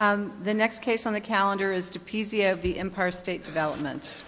The next case on the calendar is DePizio v. Empire State Development.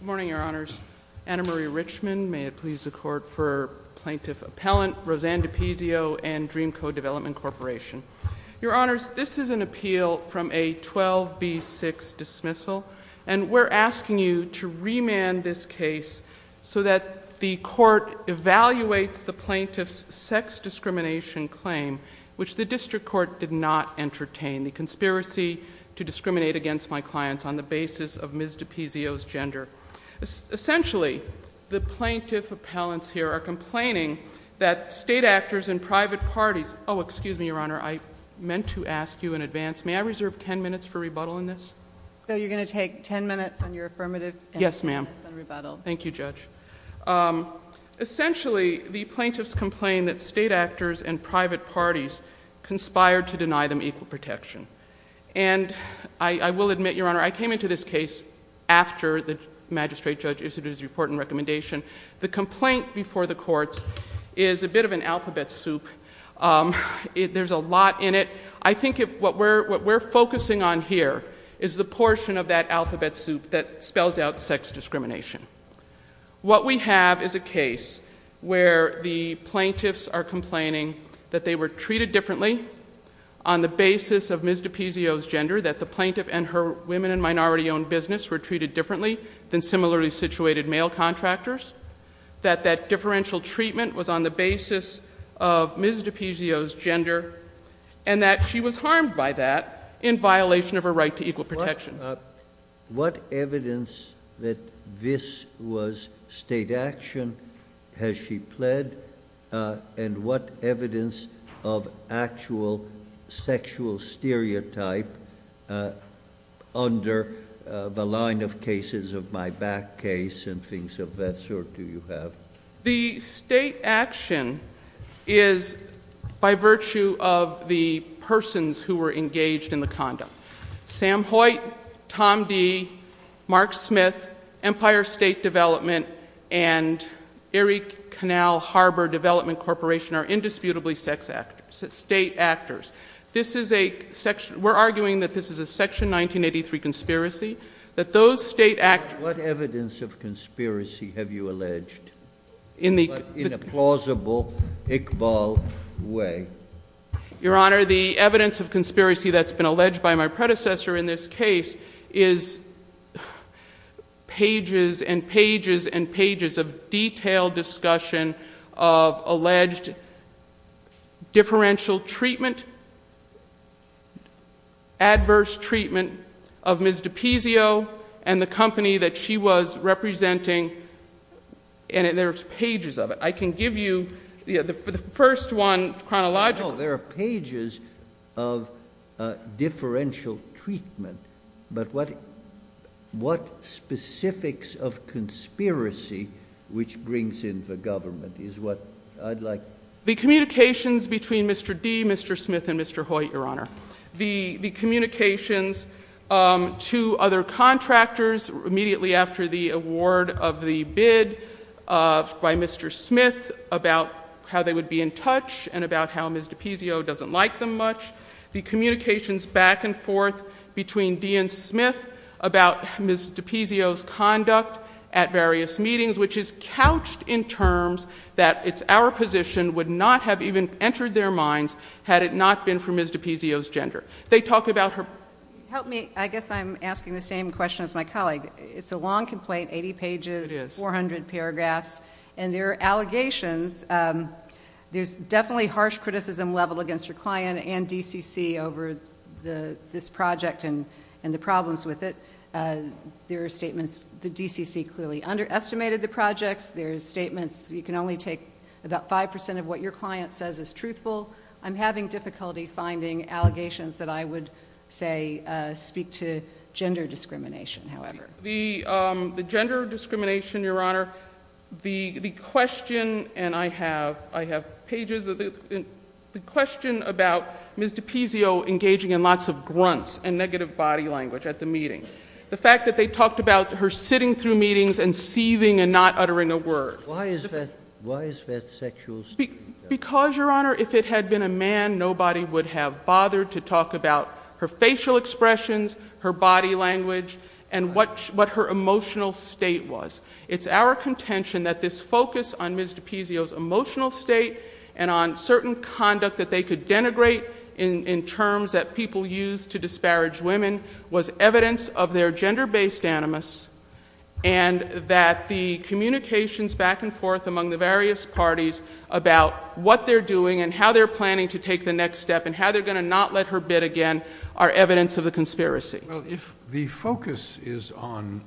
Good morning, Your Honors. Anna Marie Richman, may it please the Court, for Plaintiff Appellant Roseanne DePizio and Dreamco Development Corporation. Your Honors, this is an appeal from a 12B6 dismissal, and we're asking you to remand this case so that the Court evaluates the Plaintiff's sex discrimination claim, which the District Court did not entertain, the conspiracy to discriminate against my clients on the basis of Ms. DePizio's gender. Essentially, the Plaintiff Appellants here are complaining that state actors and private parties—oh, excuse me, Your Honor, I meant to ask you in advance, may I reserve ten minutes for rebuttal on this? So you're going to take ten minutes on your affirmative and ten minutes on rebuttal. Yes, ma'am. Thank you, Judge. Essentially, the Plaintiffs complain that state actors and private parties conspired to deny them equal protection. And I will admit, Your Honor, I came into this case after the Magistrate Judge issued his report and recommendation. The complaint before the courts is a bit of an alphabet soup. There's a lot in it. I think what we're focusing on here is the portion of that alphabet soup that spells out sex discrimination. What we have is a case where the Plaintiffs are complaining that they were treated differently on the basis of Ms. DePizio's gender, that the Plaintiff and her women- and minority-owned business were treated differently than similarly situated male contractors, that that differential treatment was on the basis of Ms. DePizio's gender, and that she was harmed by that in violation of her right to equal protection. What evidence that this was state action has she pled, and what evidence of actual sexual stereotype under the line of cases of my back case and things of that sort do you have? The state action is by virtue of the persons who were engaged in the conduct. Sam Hoyt, Tom Dee, Mark Smith, Empire State Development, and Erie Canal Harbor Development Corporation are indisputably state actors. We're arguing that this is a Section 1983 conspiracy, that those state actors- What evidence of conspiracy have you alleged in a plausible Iqbal way? Your Honor, the evidence of conspiracy that's been alleged by my predecessor in this case is pages and pages and pages of detailed discussion of alleged differential treatment, adverse treatment of Ms. DePizio and the company that she was representing, and there's pages of it. I can give you the first one chronologically. No, there are pages of differential treatment, but what specifics of conspiracy which brings in the government is what I'd like- The communications between Mr. Dee, Mr. Smith, and Mr. Hoyt, Your Honor. The communications to other contractors immediately after the award of the bid by Mr. Smith about how they would be in touch and about how Ms. DePizio doesn't like them much. The communications back and forth between Dee and Smith about Ms. DePizio's conduct at various meetings, which is couched in terms that it's our position would not have even entered their minds had it not been for Ms. DePizio's gender. They talk about her- Help me. I guess I'm asking the same question as my colleague. It's a long complaint, 80 pages, 400 paragraphs, and there are allegations. There's definitely harsh criticism leveled against your client and DCC over this project and the problems with it. There are statements the DCC clearly underestimated the projects. There's statements you can only take about 5% of what your client says is truthful. I'm having difficulty finding allegations that I would say speak to gender discrimination, however. The gender discrimination, Your Honor, the question, and I have pages of it, the question about Ms. DePizio engaging in lots of grunts and negative body language at the meeting. The fact that they talked about her sitting through meetings and seething and not uttering a word. Why is that? Why is that sexual? Because, Your Honor, if it had been a man, nobody would have bothered to talk about her facial expressions, her body language, and what her emotional state was. It's our contention that this focus on Ms. DePizio's emotional state and on certain conduct that they could denigrate in terms that people use to disparage women was evidence of their doing and how they're planning to take the next step and how they're going to not let her bid again are evidence of the conspiracy. If the focus is on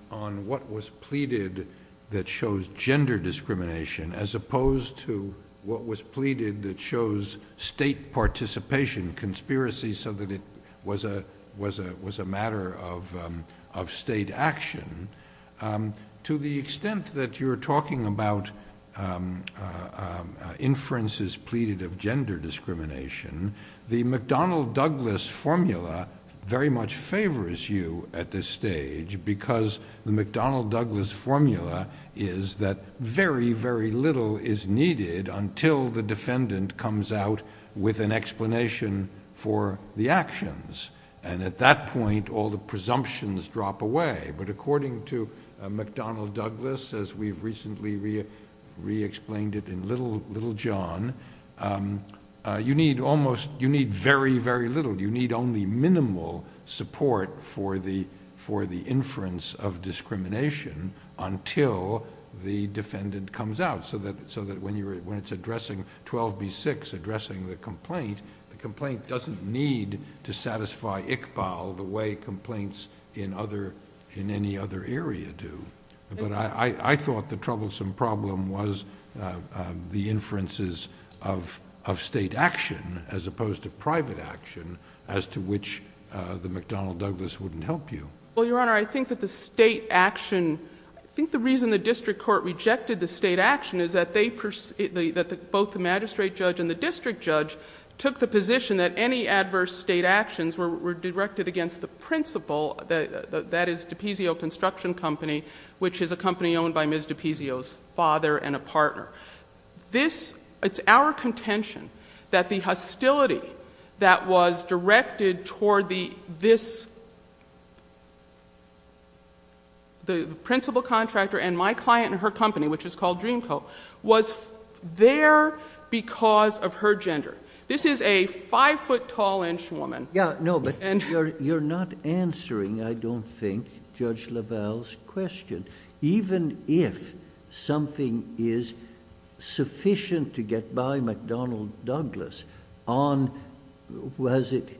what was pleaded that shows gender discrimination as opposed to what was pleaded that shows state participation conspiracy so that it was a matter of state action, to the extent that you're talking about inferences pleaded of gender discrimination, the McDonnell Douglas formula very much favors you at this stage because the McDonnell Douglas formula is that very, very little is needed until the defendant comes out with an explanation for the actions. At that point, all the presumptions drop away. According to McDonnell Douglas, as we've recently re-explained it in Little John, you need almost, you need very, very little. You need only minimal support for the inference of discrimination until the defendant comes out so that when it's addressing 12B6, addressing the complaint, the complaint doesn't need to satisfy Iqbal the way complaints in any other area do. I thought the troublesome problem was the inferences of state action as opposed to private action as to which the McDonnell Douglas wouldn't help you. Your Honor, I think that the state action, I think the reason the district court rejected the state action is that both the magistrate judge and the district judge took the position that any adverse state actions were directed against the principal, that is DePizio Construction Company, which is a company owned by Ms. DePizio's father and a partner. It's our contention that the hostility that was directed toward this, the principal contractor and my client and her company, which is called Dream Co., was there because of her gender. This is a five-foot-tall-inch woman...... Yeah, no, but you're not answering, I don't think, Judge LaValle's question. Even if something is sufficient to get by McDonnell Douglas on, was it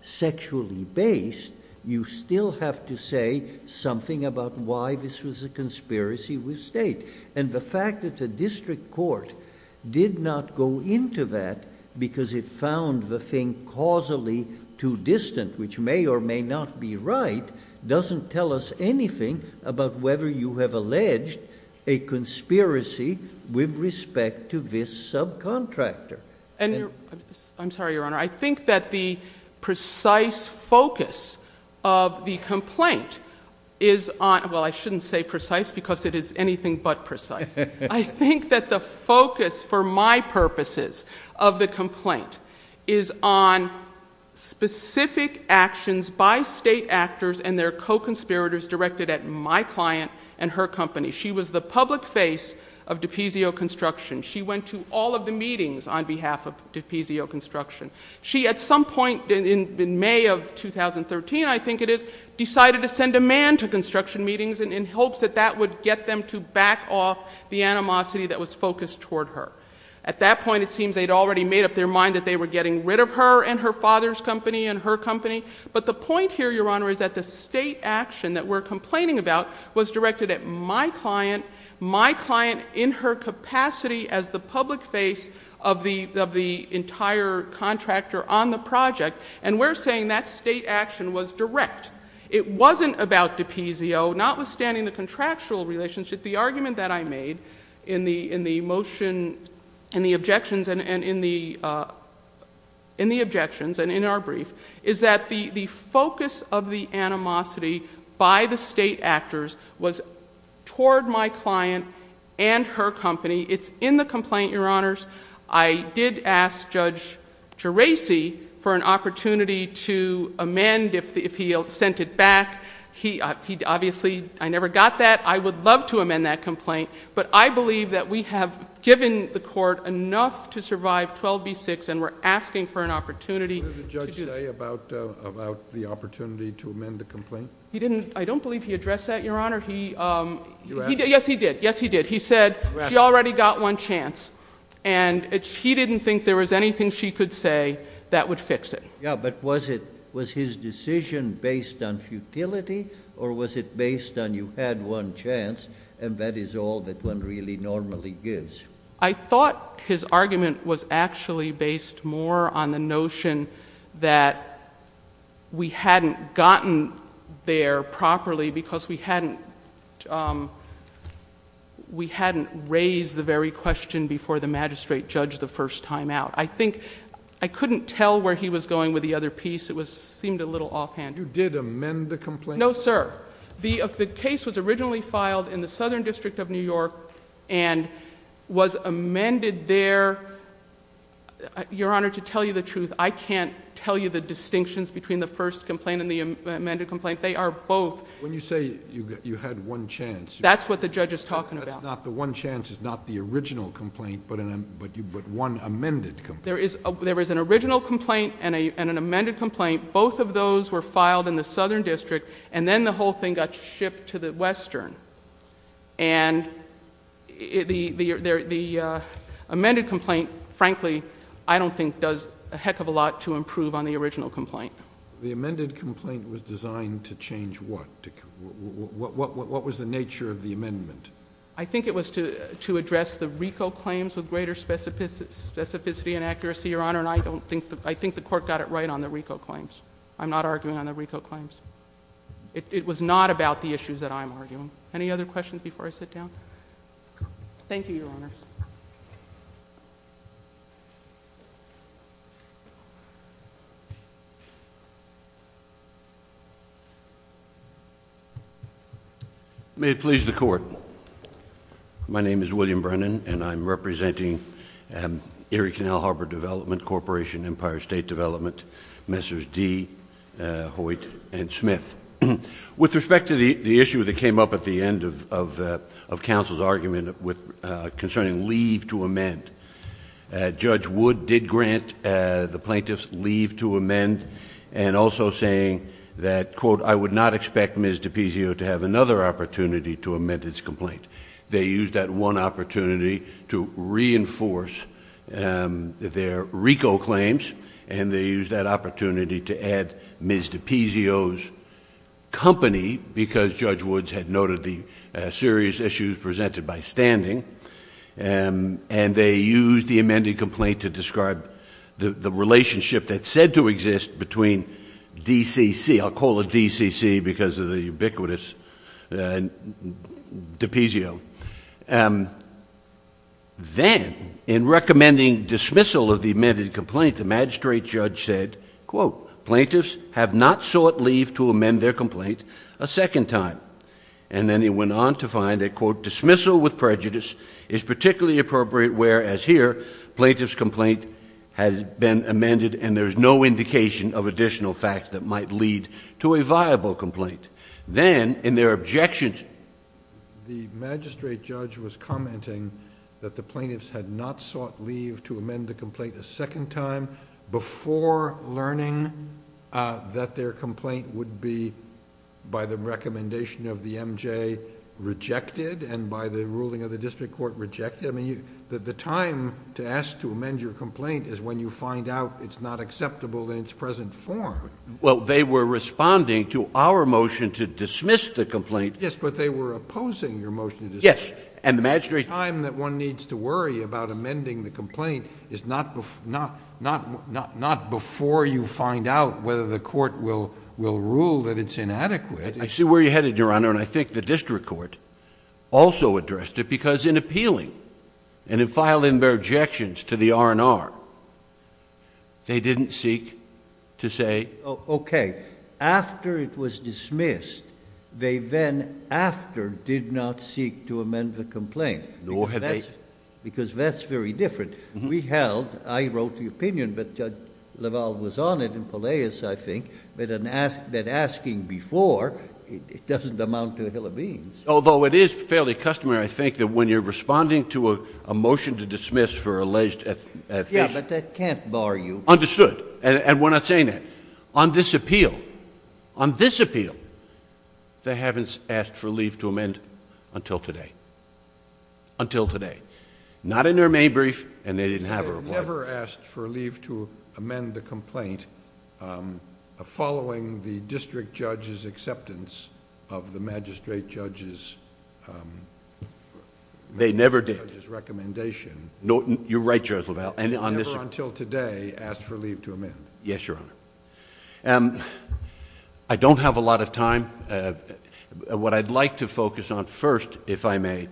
sexually based, you still have to say something about why this was a conspiracy with state. The fact that the district court did not go into that because it found the thing causally too distant, which may or may not be right, doesn't tell us anything about whether you have alleged a conspiracy with respect to this subcontractor. I'm sorry, Your Honor. I think that the precise focus of the complaint is on... well, I shouldn't say precise because it is anything but precise. I think that the focus for my purposes of the complaint is on specific actions by state actors and their co-conspirators directed at my client and her company. She was the public face of DiPizio Construction. She went to all of the meetings on behalf of DiPizio Construction. She at some point in May of 2013, I think it is, decided to send a man to construction meetings in hopes that that would get them to back off the animosity that was focused toward her. At that point, it seems they had already made up their mind that they were getting rid of her and her father's company and her company. But the point here, Your Honor, is that the state action that we're complaining about was directed at my client, my client in her capacity as the public face of the entire contractor on the project, and we're saying that state action was direct. It wasn't about DiPizio, notwithstanding the contractual relationship. The argument that I made in the motion, in the objections, and in the objections and in our brief, is that the focus of the animosity by the state actors was toward my client and her company. It's in the complaint, Your Honors. I did ask Judge Geraci for an opportunity to amend if he sent it back. He obviously... I never got that. I would love to amend that complaint, but I believe that we have given the court enough to survive 12B6, and we're asking for an opportunity... What did the judge say about the opportunity to amend the complaint? I don't believe he addressed that, Your Honor. He... You asked. Yes, he did. Yes, he did. He said, she already got one chance, and he didn't think there was anything she could say that would fix it. Yeah, but was it... was his decision based on futility, or was it based on you had one chance, and that is all that one really normally gives? I thought his argument was actually based more on the notion that we hadn't gotten there properly, because we hadn't raised the very question before the magistrate judged the first time out. I think... I couldn't tell where he was going with the other piece. It seemed a little offhand. You did amend the complaint? No, sir. The case was originally filed in the Southern District of New York, and was amended there... Your Honor, to tell you the truth, I can't tell you the distinctions between the first complaint and the amended complaint. They are both... When you say you had one chance... That's what the judge is talking about. That's not... the one chance is not the original complaint, but one amended complaint. There is an original complaint and an amended complaint. Both of those were filed in the Southern District, and then the whole thing got shipped to the Western. The amended complaint, frankly, I don't think does a heck of a lot to improve on the original complaint. The amended complaint was designed to change what? What was the nature of the amendment? I think it was to address the RICO claims with greater specificity and accuracy, Your Honor, and I don't think... I think the court got it right on the RICO claims. I'm not arguing on the RICO claims. It was not about the issues that I'm arguing. Any other questions before I sit down? Thank you, Your Honors. May it please the Court. My name is William Brennan, and I'm representing Erie Canal Harbor Development Corporation, Empire State Development, Messers D., Hoyt, and Smith. With respect to the issue that came up at the end of counsel's argument concerning leave to amend, Judge Wood did grant the plaintiffs leave to amend, and also saying that, quote, I would not expect Ms. DiPizio to have another opportunity to amend his complaint. They used that one opportunity to reinforce their RICO claims, and they used that company, because Judge Woods had noted the serious issues presented by standing, and they used the amended complaint to describe the relationship that's said to exist between DCC... I'll call it DCC because of the ubiquitous DiPizio... Then, in recommending dismissal of the amended complaint, the magistrate judge said, quote, plaintiffs have not sought leave to amend their complaint a second time. Then he went on to find that, quote, dismissal with prejudice is particularly appropriate where, as here, plaintiff's complaint has been amended and there's no indication of additional facts that might lead to a viable complaint. Then, in their objections... The magistrate judge was commenting that the plaintiffs had not sought leave to amend the complaint a second time before learning that their complaint would be, by the recommendation of the MJ, rejected and by the ruling of the district court, rejected. The time to ask to amend your complaint is when you find out it's not acceptable in its present form. Well, they were responding to our motion to dismiss the complaint... Yes, but they were opposing your motion to dismiss. Yes, and the magistrate... The time that one needs to worry about before you find out whether the court will rule that it's inadequate... I see where you're headed, Your Honor, and I think the district court also addressed it because in appealing and in filing their objections to the R&R, they didn't seek to say... Okay. After it was dismissed, they then, after, did not seek to amend the complaint. Nor have they... Because that's very different. We held... I wrote the opinion, but Judge LaValle was on it in Pelaeus, I think, that asking before, it doesn't amount to a hill of beans. Although it is fairly customary, I think, that when you're responding to a motion to dismiss for alleged... Yes, but that can't bar you. Understood. And we're not saying that. On this appeal, on this appeal, they haven't asked for leave to amend until today. Until today. Not in their main brief, and they didn't have a report. So they've never asked for leave to amend the complaint, following the district judge's acceptance of the magistrate judge's... They never did... magistrate judge's recommendation. No, you're right, Judge LaValle, and on this... Never until today, asked for leave to amend. Yes, Your Honor. I don't have a lot of time. What I'd like to focus on first, if I may,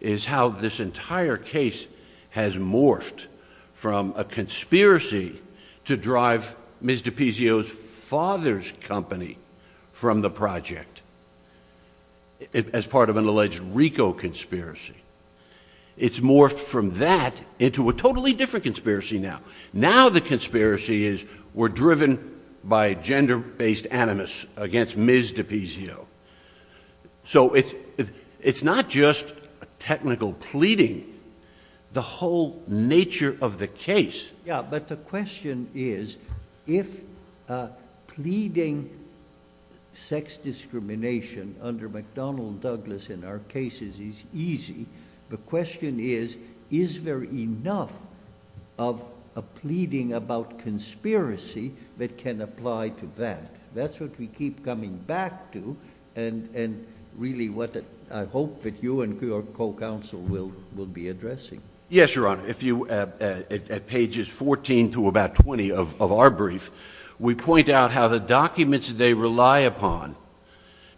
is how this entire case has morphed from a conspiracy to drive Ms. DiPizio's father's company from the project, as part of an alleged RICO conspiracy. It's morphed from that into a totally different conspiracy now. Now the conspiracy is, we're driven by gender-based animus against Ms. DiPizio. So it's not just a technical pleading. The whole nature of the case... Yeah, but the question is, if pleading sex discrimination under McDonnell Douglas in our cases is easy, the question is, is there enough of a pleading about conspiracy that can apply to that? That's what we keep coming back to, and really what I hope that you and your co-counsel will be addressing. Yes, Your Honor. At pages fourteen to about twenty of our brief, we point out how the documents they rely upon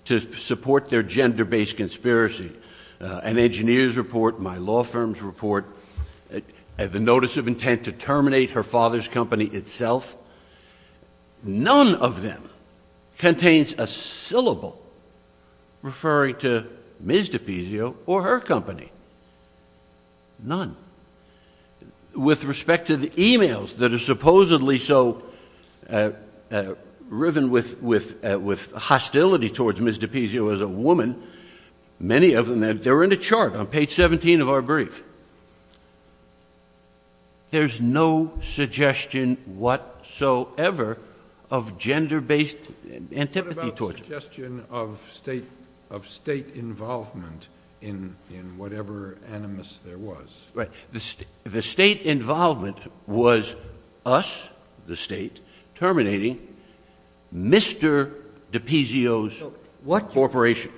to support their gender-based conspiracy, an engineer's report, my law firm's report, the notice of intent to terminate her father's company itself, none of them contains a syllable referring to Ms. DiPizio or her company, none. With respect to the emails that are supposedly so riven with hostility towards Ms. DiPizio as a woman, many of them, they're in a chart on page seventeen of our brief. There's no suggestion whatsoever of gender-based antipathy torture. What about suggestion of state involvement in whatever animus there was? The state involvement was us, the state, terminating Mr. DiPizio's corporation.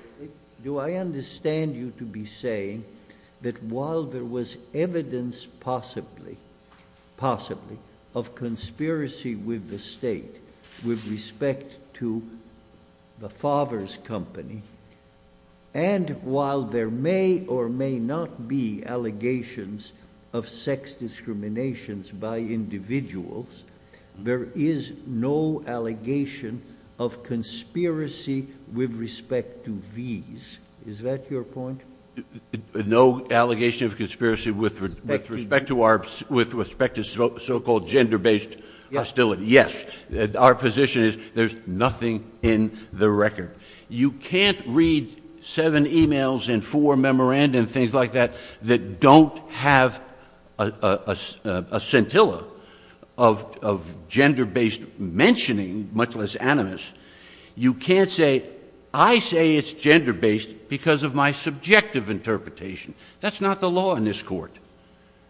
Do I understand you to be saying that while there was evidence possibly, possibly, of conspiracy with the state with respect to the father's company, and while there may or may not be allegations of sex discriminations by individuals, there is no allegation of conspiracy with respect to these. Is that your point? No allegation of conspiracy with respect to so-called gender-based hostility. Yes. Our position is there's nothing in the record. You can't read seven emails and four memorandum, things like that, that don't have a scintilla of gender-based mentioning, much less animus. You can't say, I say it's gender-based because of my subjective interpretation. That's not the law in this court.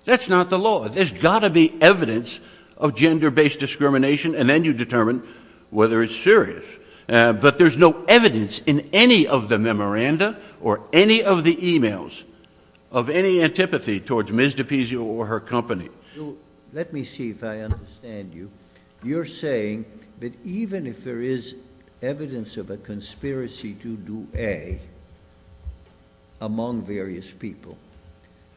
That's not the law. There's got to be evidence of gender-based discrimination, and then you determine whether it's serious. But there's no evidence in any of the memoranda or any of the emails of any antipathy towards Ms. DiPizio or her company. Let me see if I understand you. You're saying that even if there is evidence of a conspiracy to do A, among various people,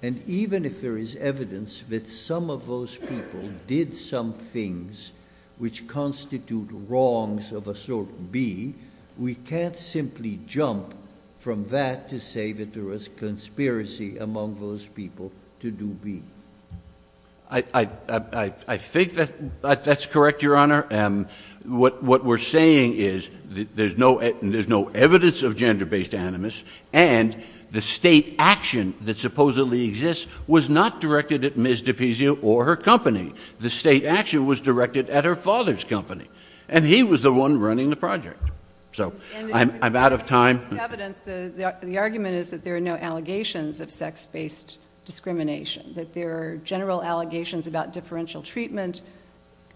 and even if there is evidence that some of those people have did some things which constitute wrongs of a sort B, we can't simply jump from that to say that there was conspiracy among those people to do B. I think that's correct, Your Honor. What we're saying is there's no evidence of gender-based animus, and the state action that supposedly exists was not directed at Ms. DiPizio or her company. The state action was directed at her father's company, and he was the one running the project. I'm out of time. The argument is that there are no allegations of sex-based discrimination, that there are general allegations about differential treatment.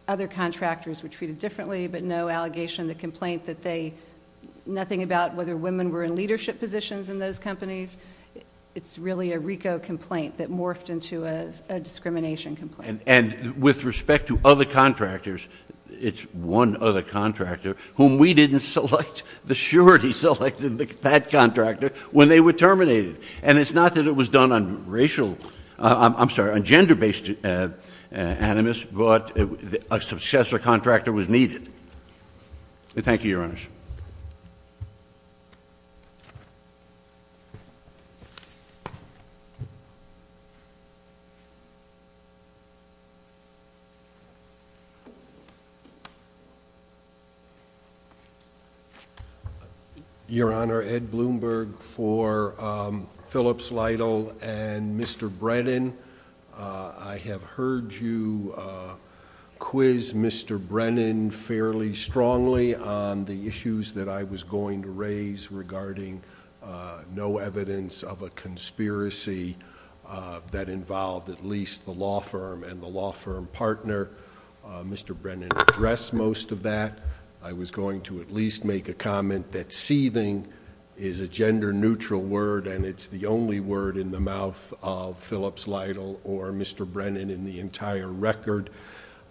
Other contractors were treated differently, but no allegation of the complaint that they – nothing about whether women were in leadership positions in those companies. It's really a RICO complaint that morphed into a discrimination complaint. And with respect to other contractors, it's one other contractor whom we didn't select, the surety selected that contractor when they were terminated. And it's not that it was done on racial – I'm sorry, on gender-based animus, but a successor contractor was needed. Thank you, Your Honors. Your Honor, Ed Bloomberg for Phillips, Lytle, and Mr. Brennan. I have heard you quiz Mr. Brennan fairly strongly on the issues that I was going to raise regarding no evidence of a conspiracy that involved at least the law firm and the law firm partner. Mr. Brennan addressed most of that. I was going to at least make a comment that seething is a gender-neutral word, and it's the only word in the mouth of Phillips, Lytle, or Mr. Brennan in the entire record.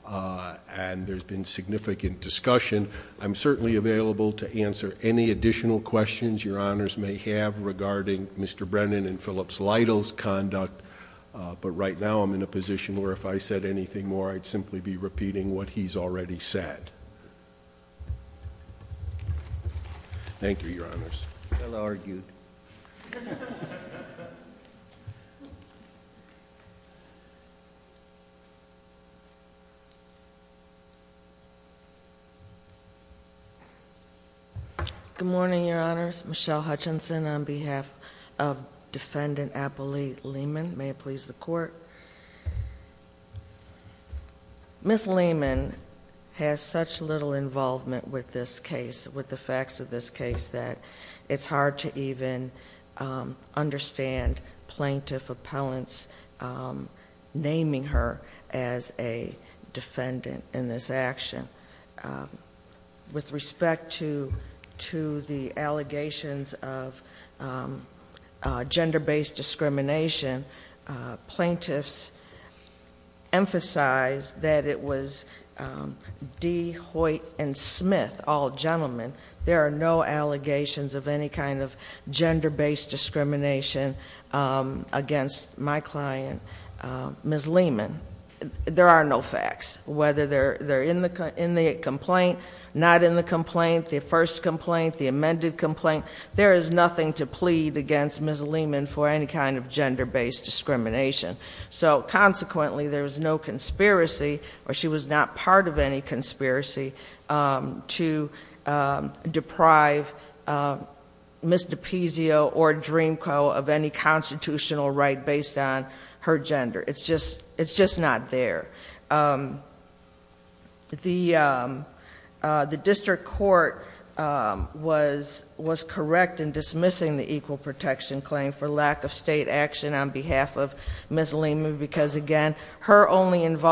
And there's been significant discussion. I'm certainly available to answer any additional questions Your Honors may have regarding Mr. Brennan and Phillips, Lytle's conduct. But right now I'm in a position where if I said anything more, I'd simply be repeating what he's already said. Thank you, Your Honors. Well argued. Good morning, Your Honors. Michelle Hutchinson on behalf of Defendant Apple Lee Lehman. May it please the Court. Ms. Lehman has such little involvement with this case, with the facts of this case, that it's hard to even understand plaintiff appellants naming her as a defendant in this action. With respect to the allegations of gender-based discrimination, plaintiffs emphasize that it was Dee Hoyt and Smith, all gentlemen, there are no allegations of any kind of gender-based discrimination against my client, Ms. Lehman. There are no facts. Whether they're in the complaint, not in the complaint, the first complaint, the amended complaint, there is nothing to plead against Ms. Lehman for any kind of gender-based discrimination. So consequently, there was no conspiracy, or she was not part of any conspiracy to deprive Ms. DiPizzo or Dreamco of any constitutional right based on her gender. It's just not there. The district court was correct in dismissing the equal protection claim for lack of state action on behalf of Ms. Lehman because, again, her only defense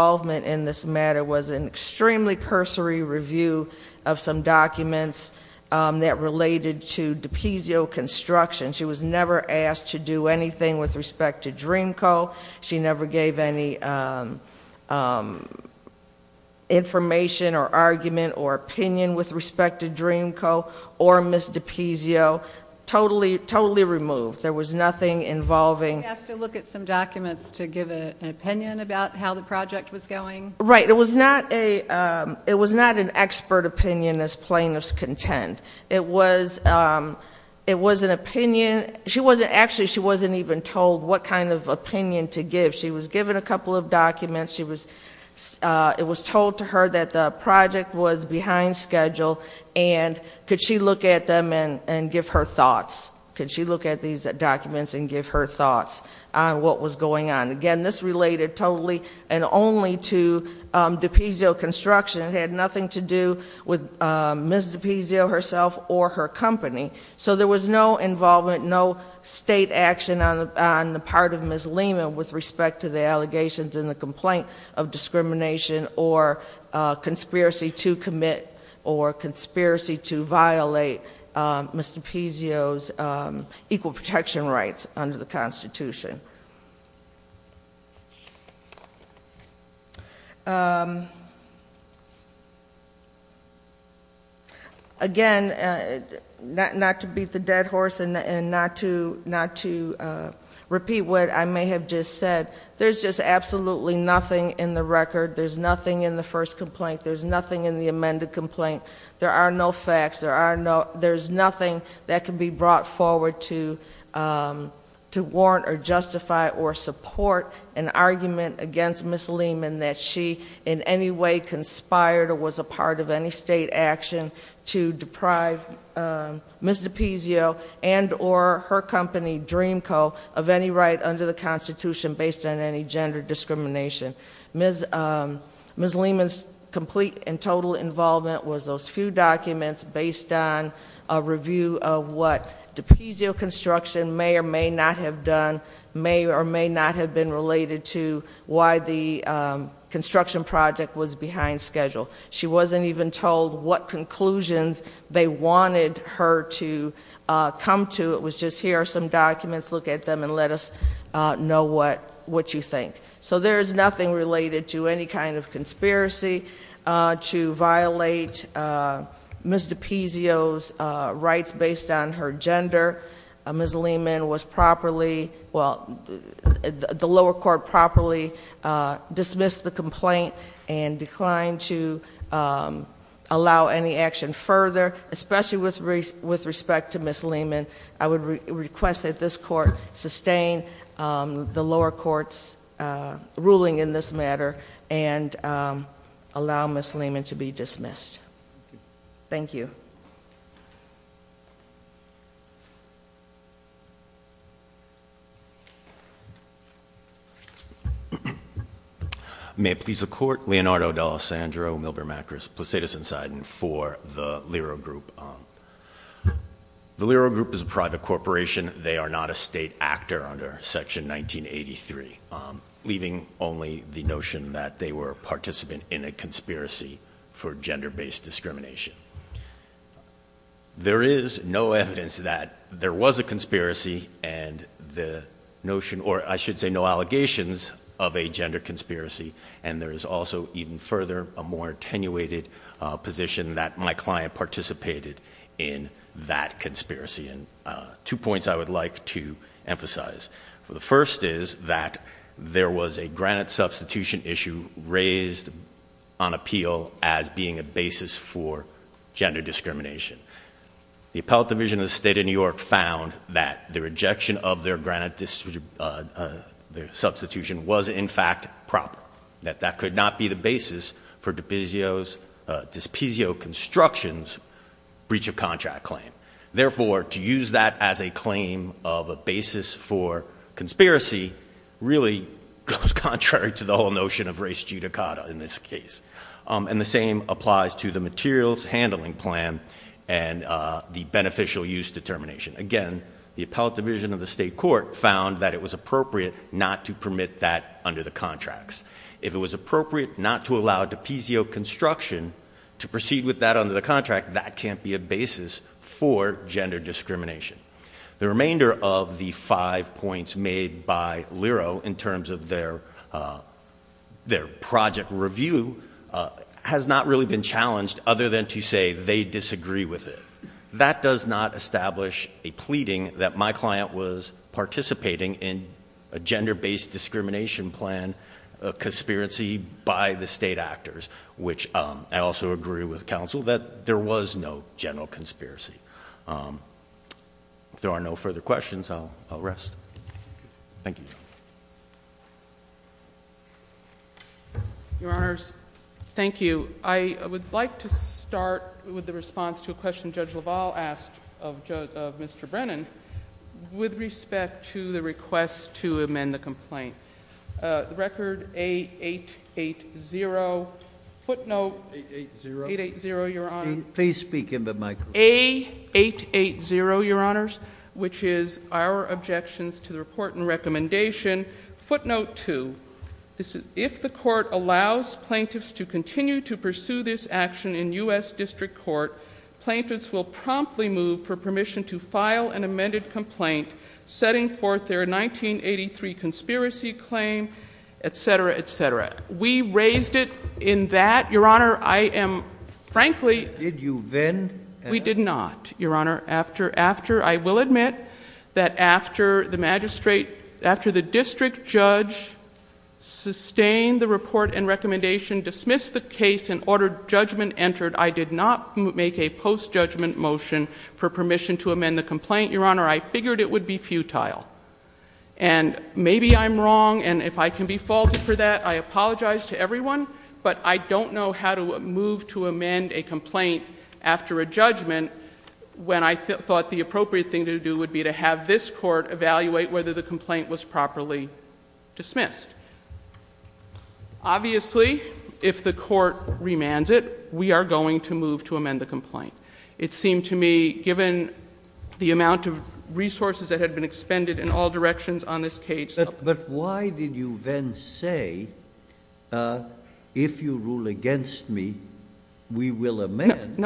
that related to DiPizzo construction, she was never asked to do anything with respect to Dreamco. She never gave any information or argument or opinion with respect to Dreamco or Ms. DiPizzo. Totally removed. There was nothing involving. She was asked to look at some documents to give an opinion about how the project was going. Right. It was not an expert opinion, as plaintiffs contend. It was an opinion. Actually, she wasn't even told what kind of opinion to give. She was given a couple of documents. It was told to her that the project was behind schedule, and could she look at them and give her thoughts? Could she look at these documents and give her thoughts on what was going on? Again, this related totally and only to DiPizzo construction. It had nothing to do with Ms. DiPizzo herself or her company. There was no involvement, no state action on the part of Ms. Lehman with respect to the allegations in the complaint of discrimination or conspiracy to commit or conspiracy to violate Ms. DiPizzo's equal protection rights under the Constitution. Again, not to beat the dead horse and not to repeat what I may have just said, there's just absolutely nothing in the record. There's nothing in the first complaint. There's nothing in the amended complaint. There are no facts. There's nothing that can be brought forward to warrant or justify or support an argument against Ms. Lehman that she in any way conspired or was a part of any state action to deprive Ms. DiPizzo and or her company Dreamco of any right under the Constitution based on any gender discrimination. Ms. Lehman's complete and total involvement was those few documents based on a review of what DiPizzo Construction may or may not have done, may or may not have been related to why the construction project was behind schedule. She wasn't even told what conclusions they wanted her to come to. It was just here are some documents, look at them and let us know what you think. So there is nothing related to any kind of conspiracy to violate Ms. DiPizzo's rights based on her gender. Ms. Lehman was properly, well, the lower court properly dismissed the complaint and declined to allow any action further, especially with respect to Ms. Lehman. I would request that this court sustain the lower court's ruling in this case. May it please the court, Leonardo D'Alessandro Milbermackers, Placidus Insidon for the Lero Group. The Lero Group is a private corporation. They are not a state actor under section 1983, leaving only the notion that they were a participant in a conspiracy for gender based discrimination. There is no evidence that there was a conspiracy and the notion, or I should say no allegations of a gender conspiracy. And there is also even further a more attenuated position that my client participated in that conspiracy. And two points I would like to emphasize for the first is that there was a granite substitution issue raised on appeal as being a basis for gender discrimination. The appellate division of the state of New York found that the rejection of their granite substitution was in fact proper, that that could not be the basis for DiPizzo's, DiPizzo construction's breach of contract claim. Therefore to use that as a claim of a basis for conspiracy really goes contrary to the whole notion of race judicata in this case. And the same applies to the materials handling plan and the beneficial use determination. Again, the appellate division of the state court found that it was appropriate not to permit that under the contracts. If it was appropriate not to allow DiPizzo construction to proceed with that under the contract, that can't be a basis for gender discrimination. The remainder of the five points made by Lero in terms of their their project review has not really been challenged other than to say they disagree with it. That does not establish a pleading that my client was participating in a gender based discrimination plan, a conspiracy by the state actors, which I also agree with counsel that there was no general conspiracy. If there are no further questions, I'll rest. Thank you. Your honors. Thank you. I would like to start with the response to a question Judge LaValle asked of Mr. Brennan with respect to the request to amend the complaint. Record a eight eight zero footnote. Eight eight zero. Eight eight zero. Your honor. Please speak in the mic. Eight eight eight zero. Your honors, which is our objections to the report and recommendation footnote two. This is if the court allows plaintiffs to continue to pursue this action in us district court, plaintiffs will promptly move for permission to file an amended complaint setting forth their 1983 conspiracy claim, et cetera, et cetera. We raised it in that your honor. I am frankly, did you then? We did not. Your honor. After, after I will admit that after the magistrate, after the district judge sustained the report and recommendation dismissed the case and ordered judgment entered, I did not make a post judgment motion for permission to amend the complaint. Your honor, I figured it would be futile and maybe I'm wrong. And if I can be faulted for that, I apologize to everyone, but I don't know how to move to amend a complaint after a judgment when I thought the appropriate thing to do would be to have this court evaluate whether the complaint was properly dismissed. Obviously if the court remands it, we are going to move to amend the complaint. It seemed to me given the amount of resources that had been expended in all directions on this case. But why did you then say, uh, if you rule against me, we will amend.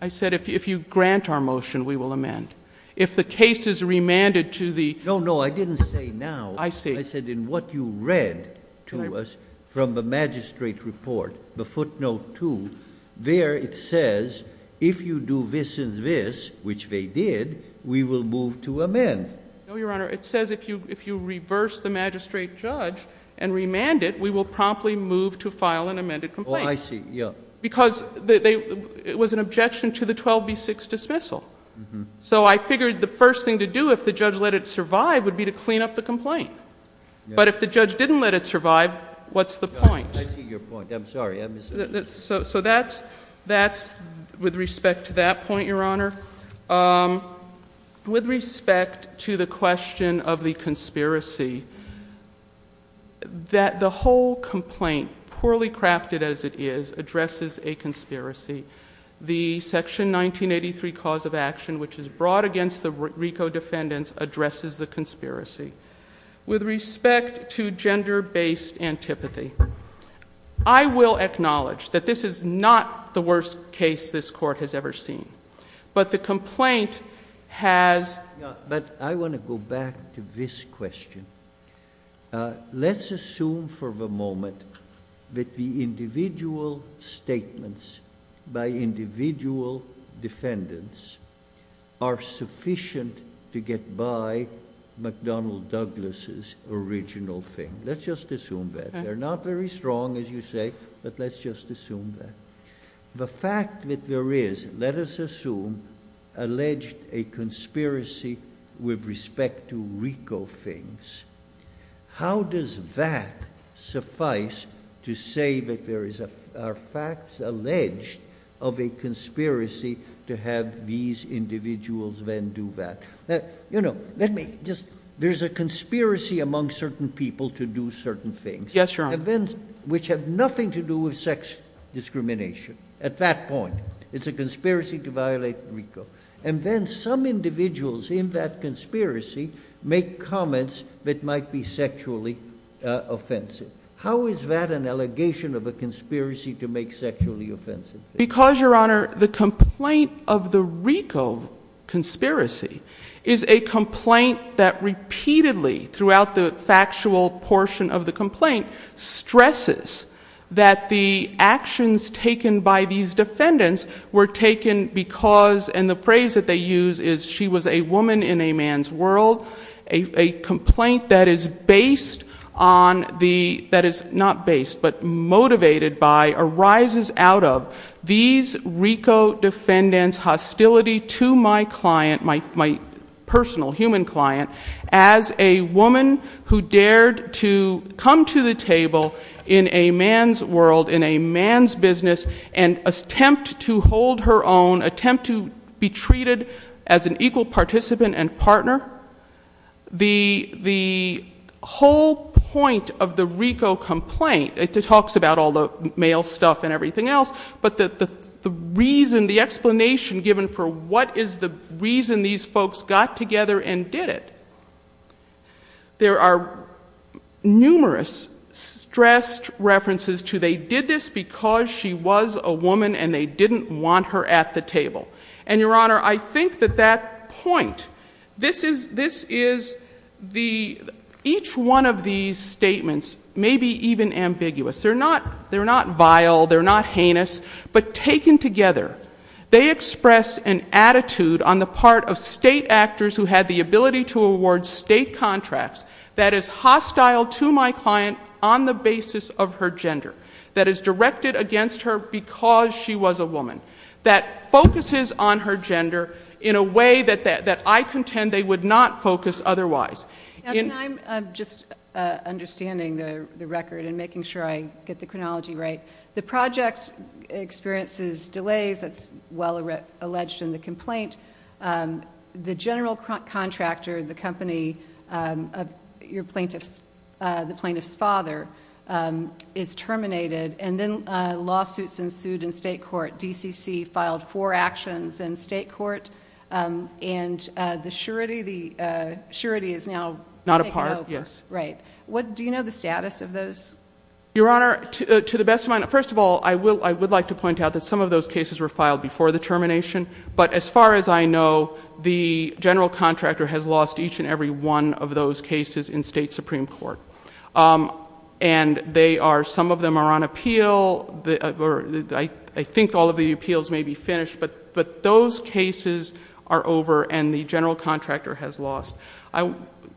I said, if you grant our motion, we will amend. If the case is remanded to the. No, no. I didn't say now. I said in what you read to us from the magistrate report, the footnote two, there it says if you do this and this, which they did, we will move to amend. No, your honor. It says if you, if you reverse the magistrate judge and remand it, we will promptly move to file an amended complaint. Oh, I see. Yeah. Because it was an objection to the 12B6 dismissal. So I figured the first thing to do, if the judge let it survive would be to clean up the complaint. But if the judge didn't let it survive, what's the point? I see your point. I'm sorry. So that's, that's with respect to that point, your honor. Um, with respect to the question of the conspiracy, that the whole complaint poorly crafted as it is addresses a conspiracy. The section 1983 cause of action, which is brought against the Rico defendants addresses the conspiracy with respect to gender based antipathy. I will acknowledge that this is not the worst case this court has ever seen, but the complaint has, but I want to go back to this question. Uh, let's assume for the moment that the individual statements by individual defendants are sufficient to get by McDonnell Douglas's original thing. Let's just assume that they're not very strong as you say, but let's just assume that the fact that there is, let us assume alleged a conspiracy with respect to Rico things. How does that suffice to say that there is a, are facts alleged of a conspiracy to have these individuals then do that? That, you know, let me just, there's a conspiracy among certain people to do certain things. Yes, your events, which have nothing to do with sex discrimination. At that point, it's a conspiracy to violate Rico. And then some individuals in that conspiracy make comments that might be sexually offensive. How is that an allegation of a conspiracy to make sexually offensive? Because your honor, the complaint of the Rico conspiracy is a complaint that requires a repeatedly throughout the factual portion of the complaint stresses that the actions taken by these defendants were taken because, and the phrase that they use is she was a woman in a man's world. A complaint that is based on the, that is not based but motivated by arises out of these Rico defendants hostility to my client, my, my personal human client, as a woman who dared to come to the table in a man's world, in a man's business and attempt to hold her own, attempt to be treated as an equal participant and partner. The, the whole point of the Rico complaint, it talks about all the male stuff and everything else, but the, the reason the explanation given for what is the reason these folks got together and did it. There are numerous stressed references to, they did this because she was a woman and they didn't want her at the table. And your honor, I think that that point, this is, this is the, each one of these statements may be even ambiguous. They're not, they're not vile. They're not heinous, but taken together, they express an attitude on the part of state actors who had the ability to award state contracts that is hostile to my client on the basis of her gender that is directed against her because she was a woman that focuses on her gender in a way that, that, that I contend they would not focus otherwise. And I'm just understanding the record and making sure I get the chronology right. The project experiences delays, that's well alleged in the complaint. The general contractor, the company, your plaintiffs, the plaintiff's father is terminated and then lawsuits ensued in state court. DCC filed four actions in state court. And the surety, the surety is now not a part. Yes. Right. What, do you know the status of those? Your honor, to the best of my knowledge, first of all, I will, I would like to point out that some of those cases were filed before the termination. But as far as I know, the general contractor has lost each and every one of those cases in state Supreme court. And they are, some of them are on appeal. I think all of the appeals may be finished, but, but those cases are over and the general contractor has lost. I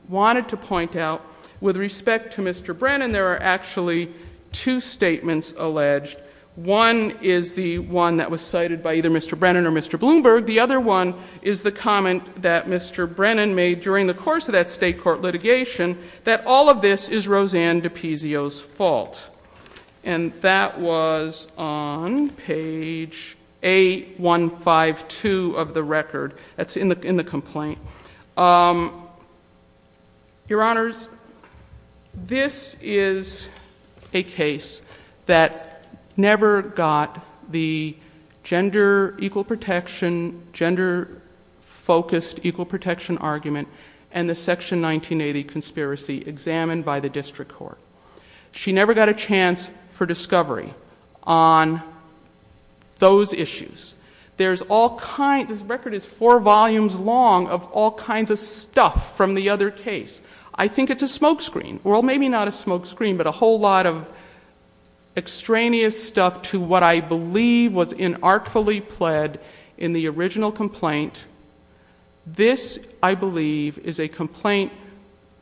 wanted to point out with respect to Mr. Brennan, there are actually two statements alleged. One is the one that was cited by either Mr. Brennan or Mr. Bloomberg. The other one is the comment that Mr. Brennan made during the course of that state court litigation, that all of this is Roseanne DiPizio's fault. And that was on page eight, one five, two of the record that's in the, in the complaint. Your honors, this is a case that never got the gender equal protection, gender focused, equal protection argument and the section 1980 conspiracy examined by the general contractor. There's no chance for discovery on those issues. There's all kinds of record is four volumes long of all kinds of stuff from the other case. I think it's a smokescreen. Well, maybe not a smokescreen, but a whole lot of extraneous stuff to what I believe was in artfully pled in the original complaint. This I believe is a complaint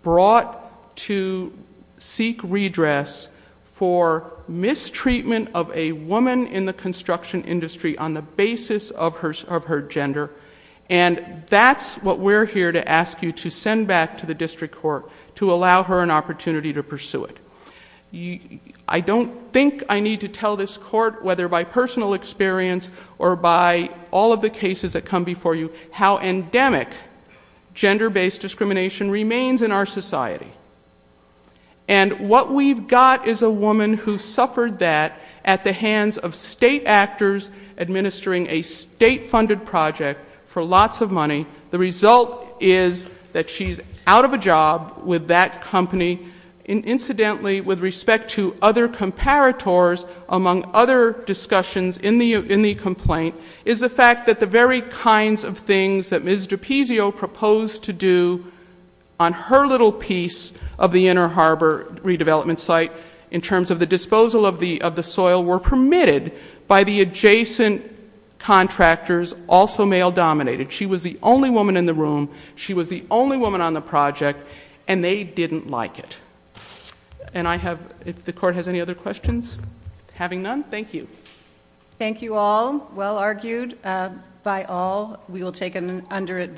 brought to seek redress for the original complaint for mistreatment of a woman in the construction industry on the basis of her, of her gender. And that's what we're here to ask you to send back to the district court to allow her an opportunity to pursue it. I don't think I need to tell this court, whether by personal experience or by all of the cases that come before you, how endemic gender based discrimination remains in our society. And what we've got is a woman who suffered that at the hands of state actors administering a state funded project for lots of money. The result is that she's out of a job with that company. And incidentally, with respect to other comparators among other discussions in the, in the complaint is the fact that the very kinds of things that Ms. Little piece of the inner Harbor redevelopment site in terms of the disposal of the, of the soil were permitted by the adjacent contractors, also male dominated. She was the only woman in the room. She was the only woman on the project and they didn't like it. And I have, if the court has any other questions, having none, thank you. Thank you all well argued by all. We will take an under it.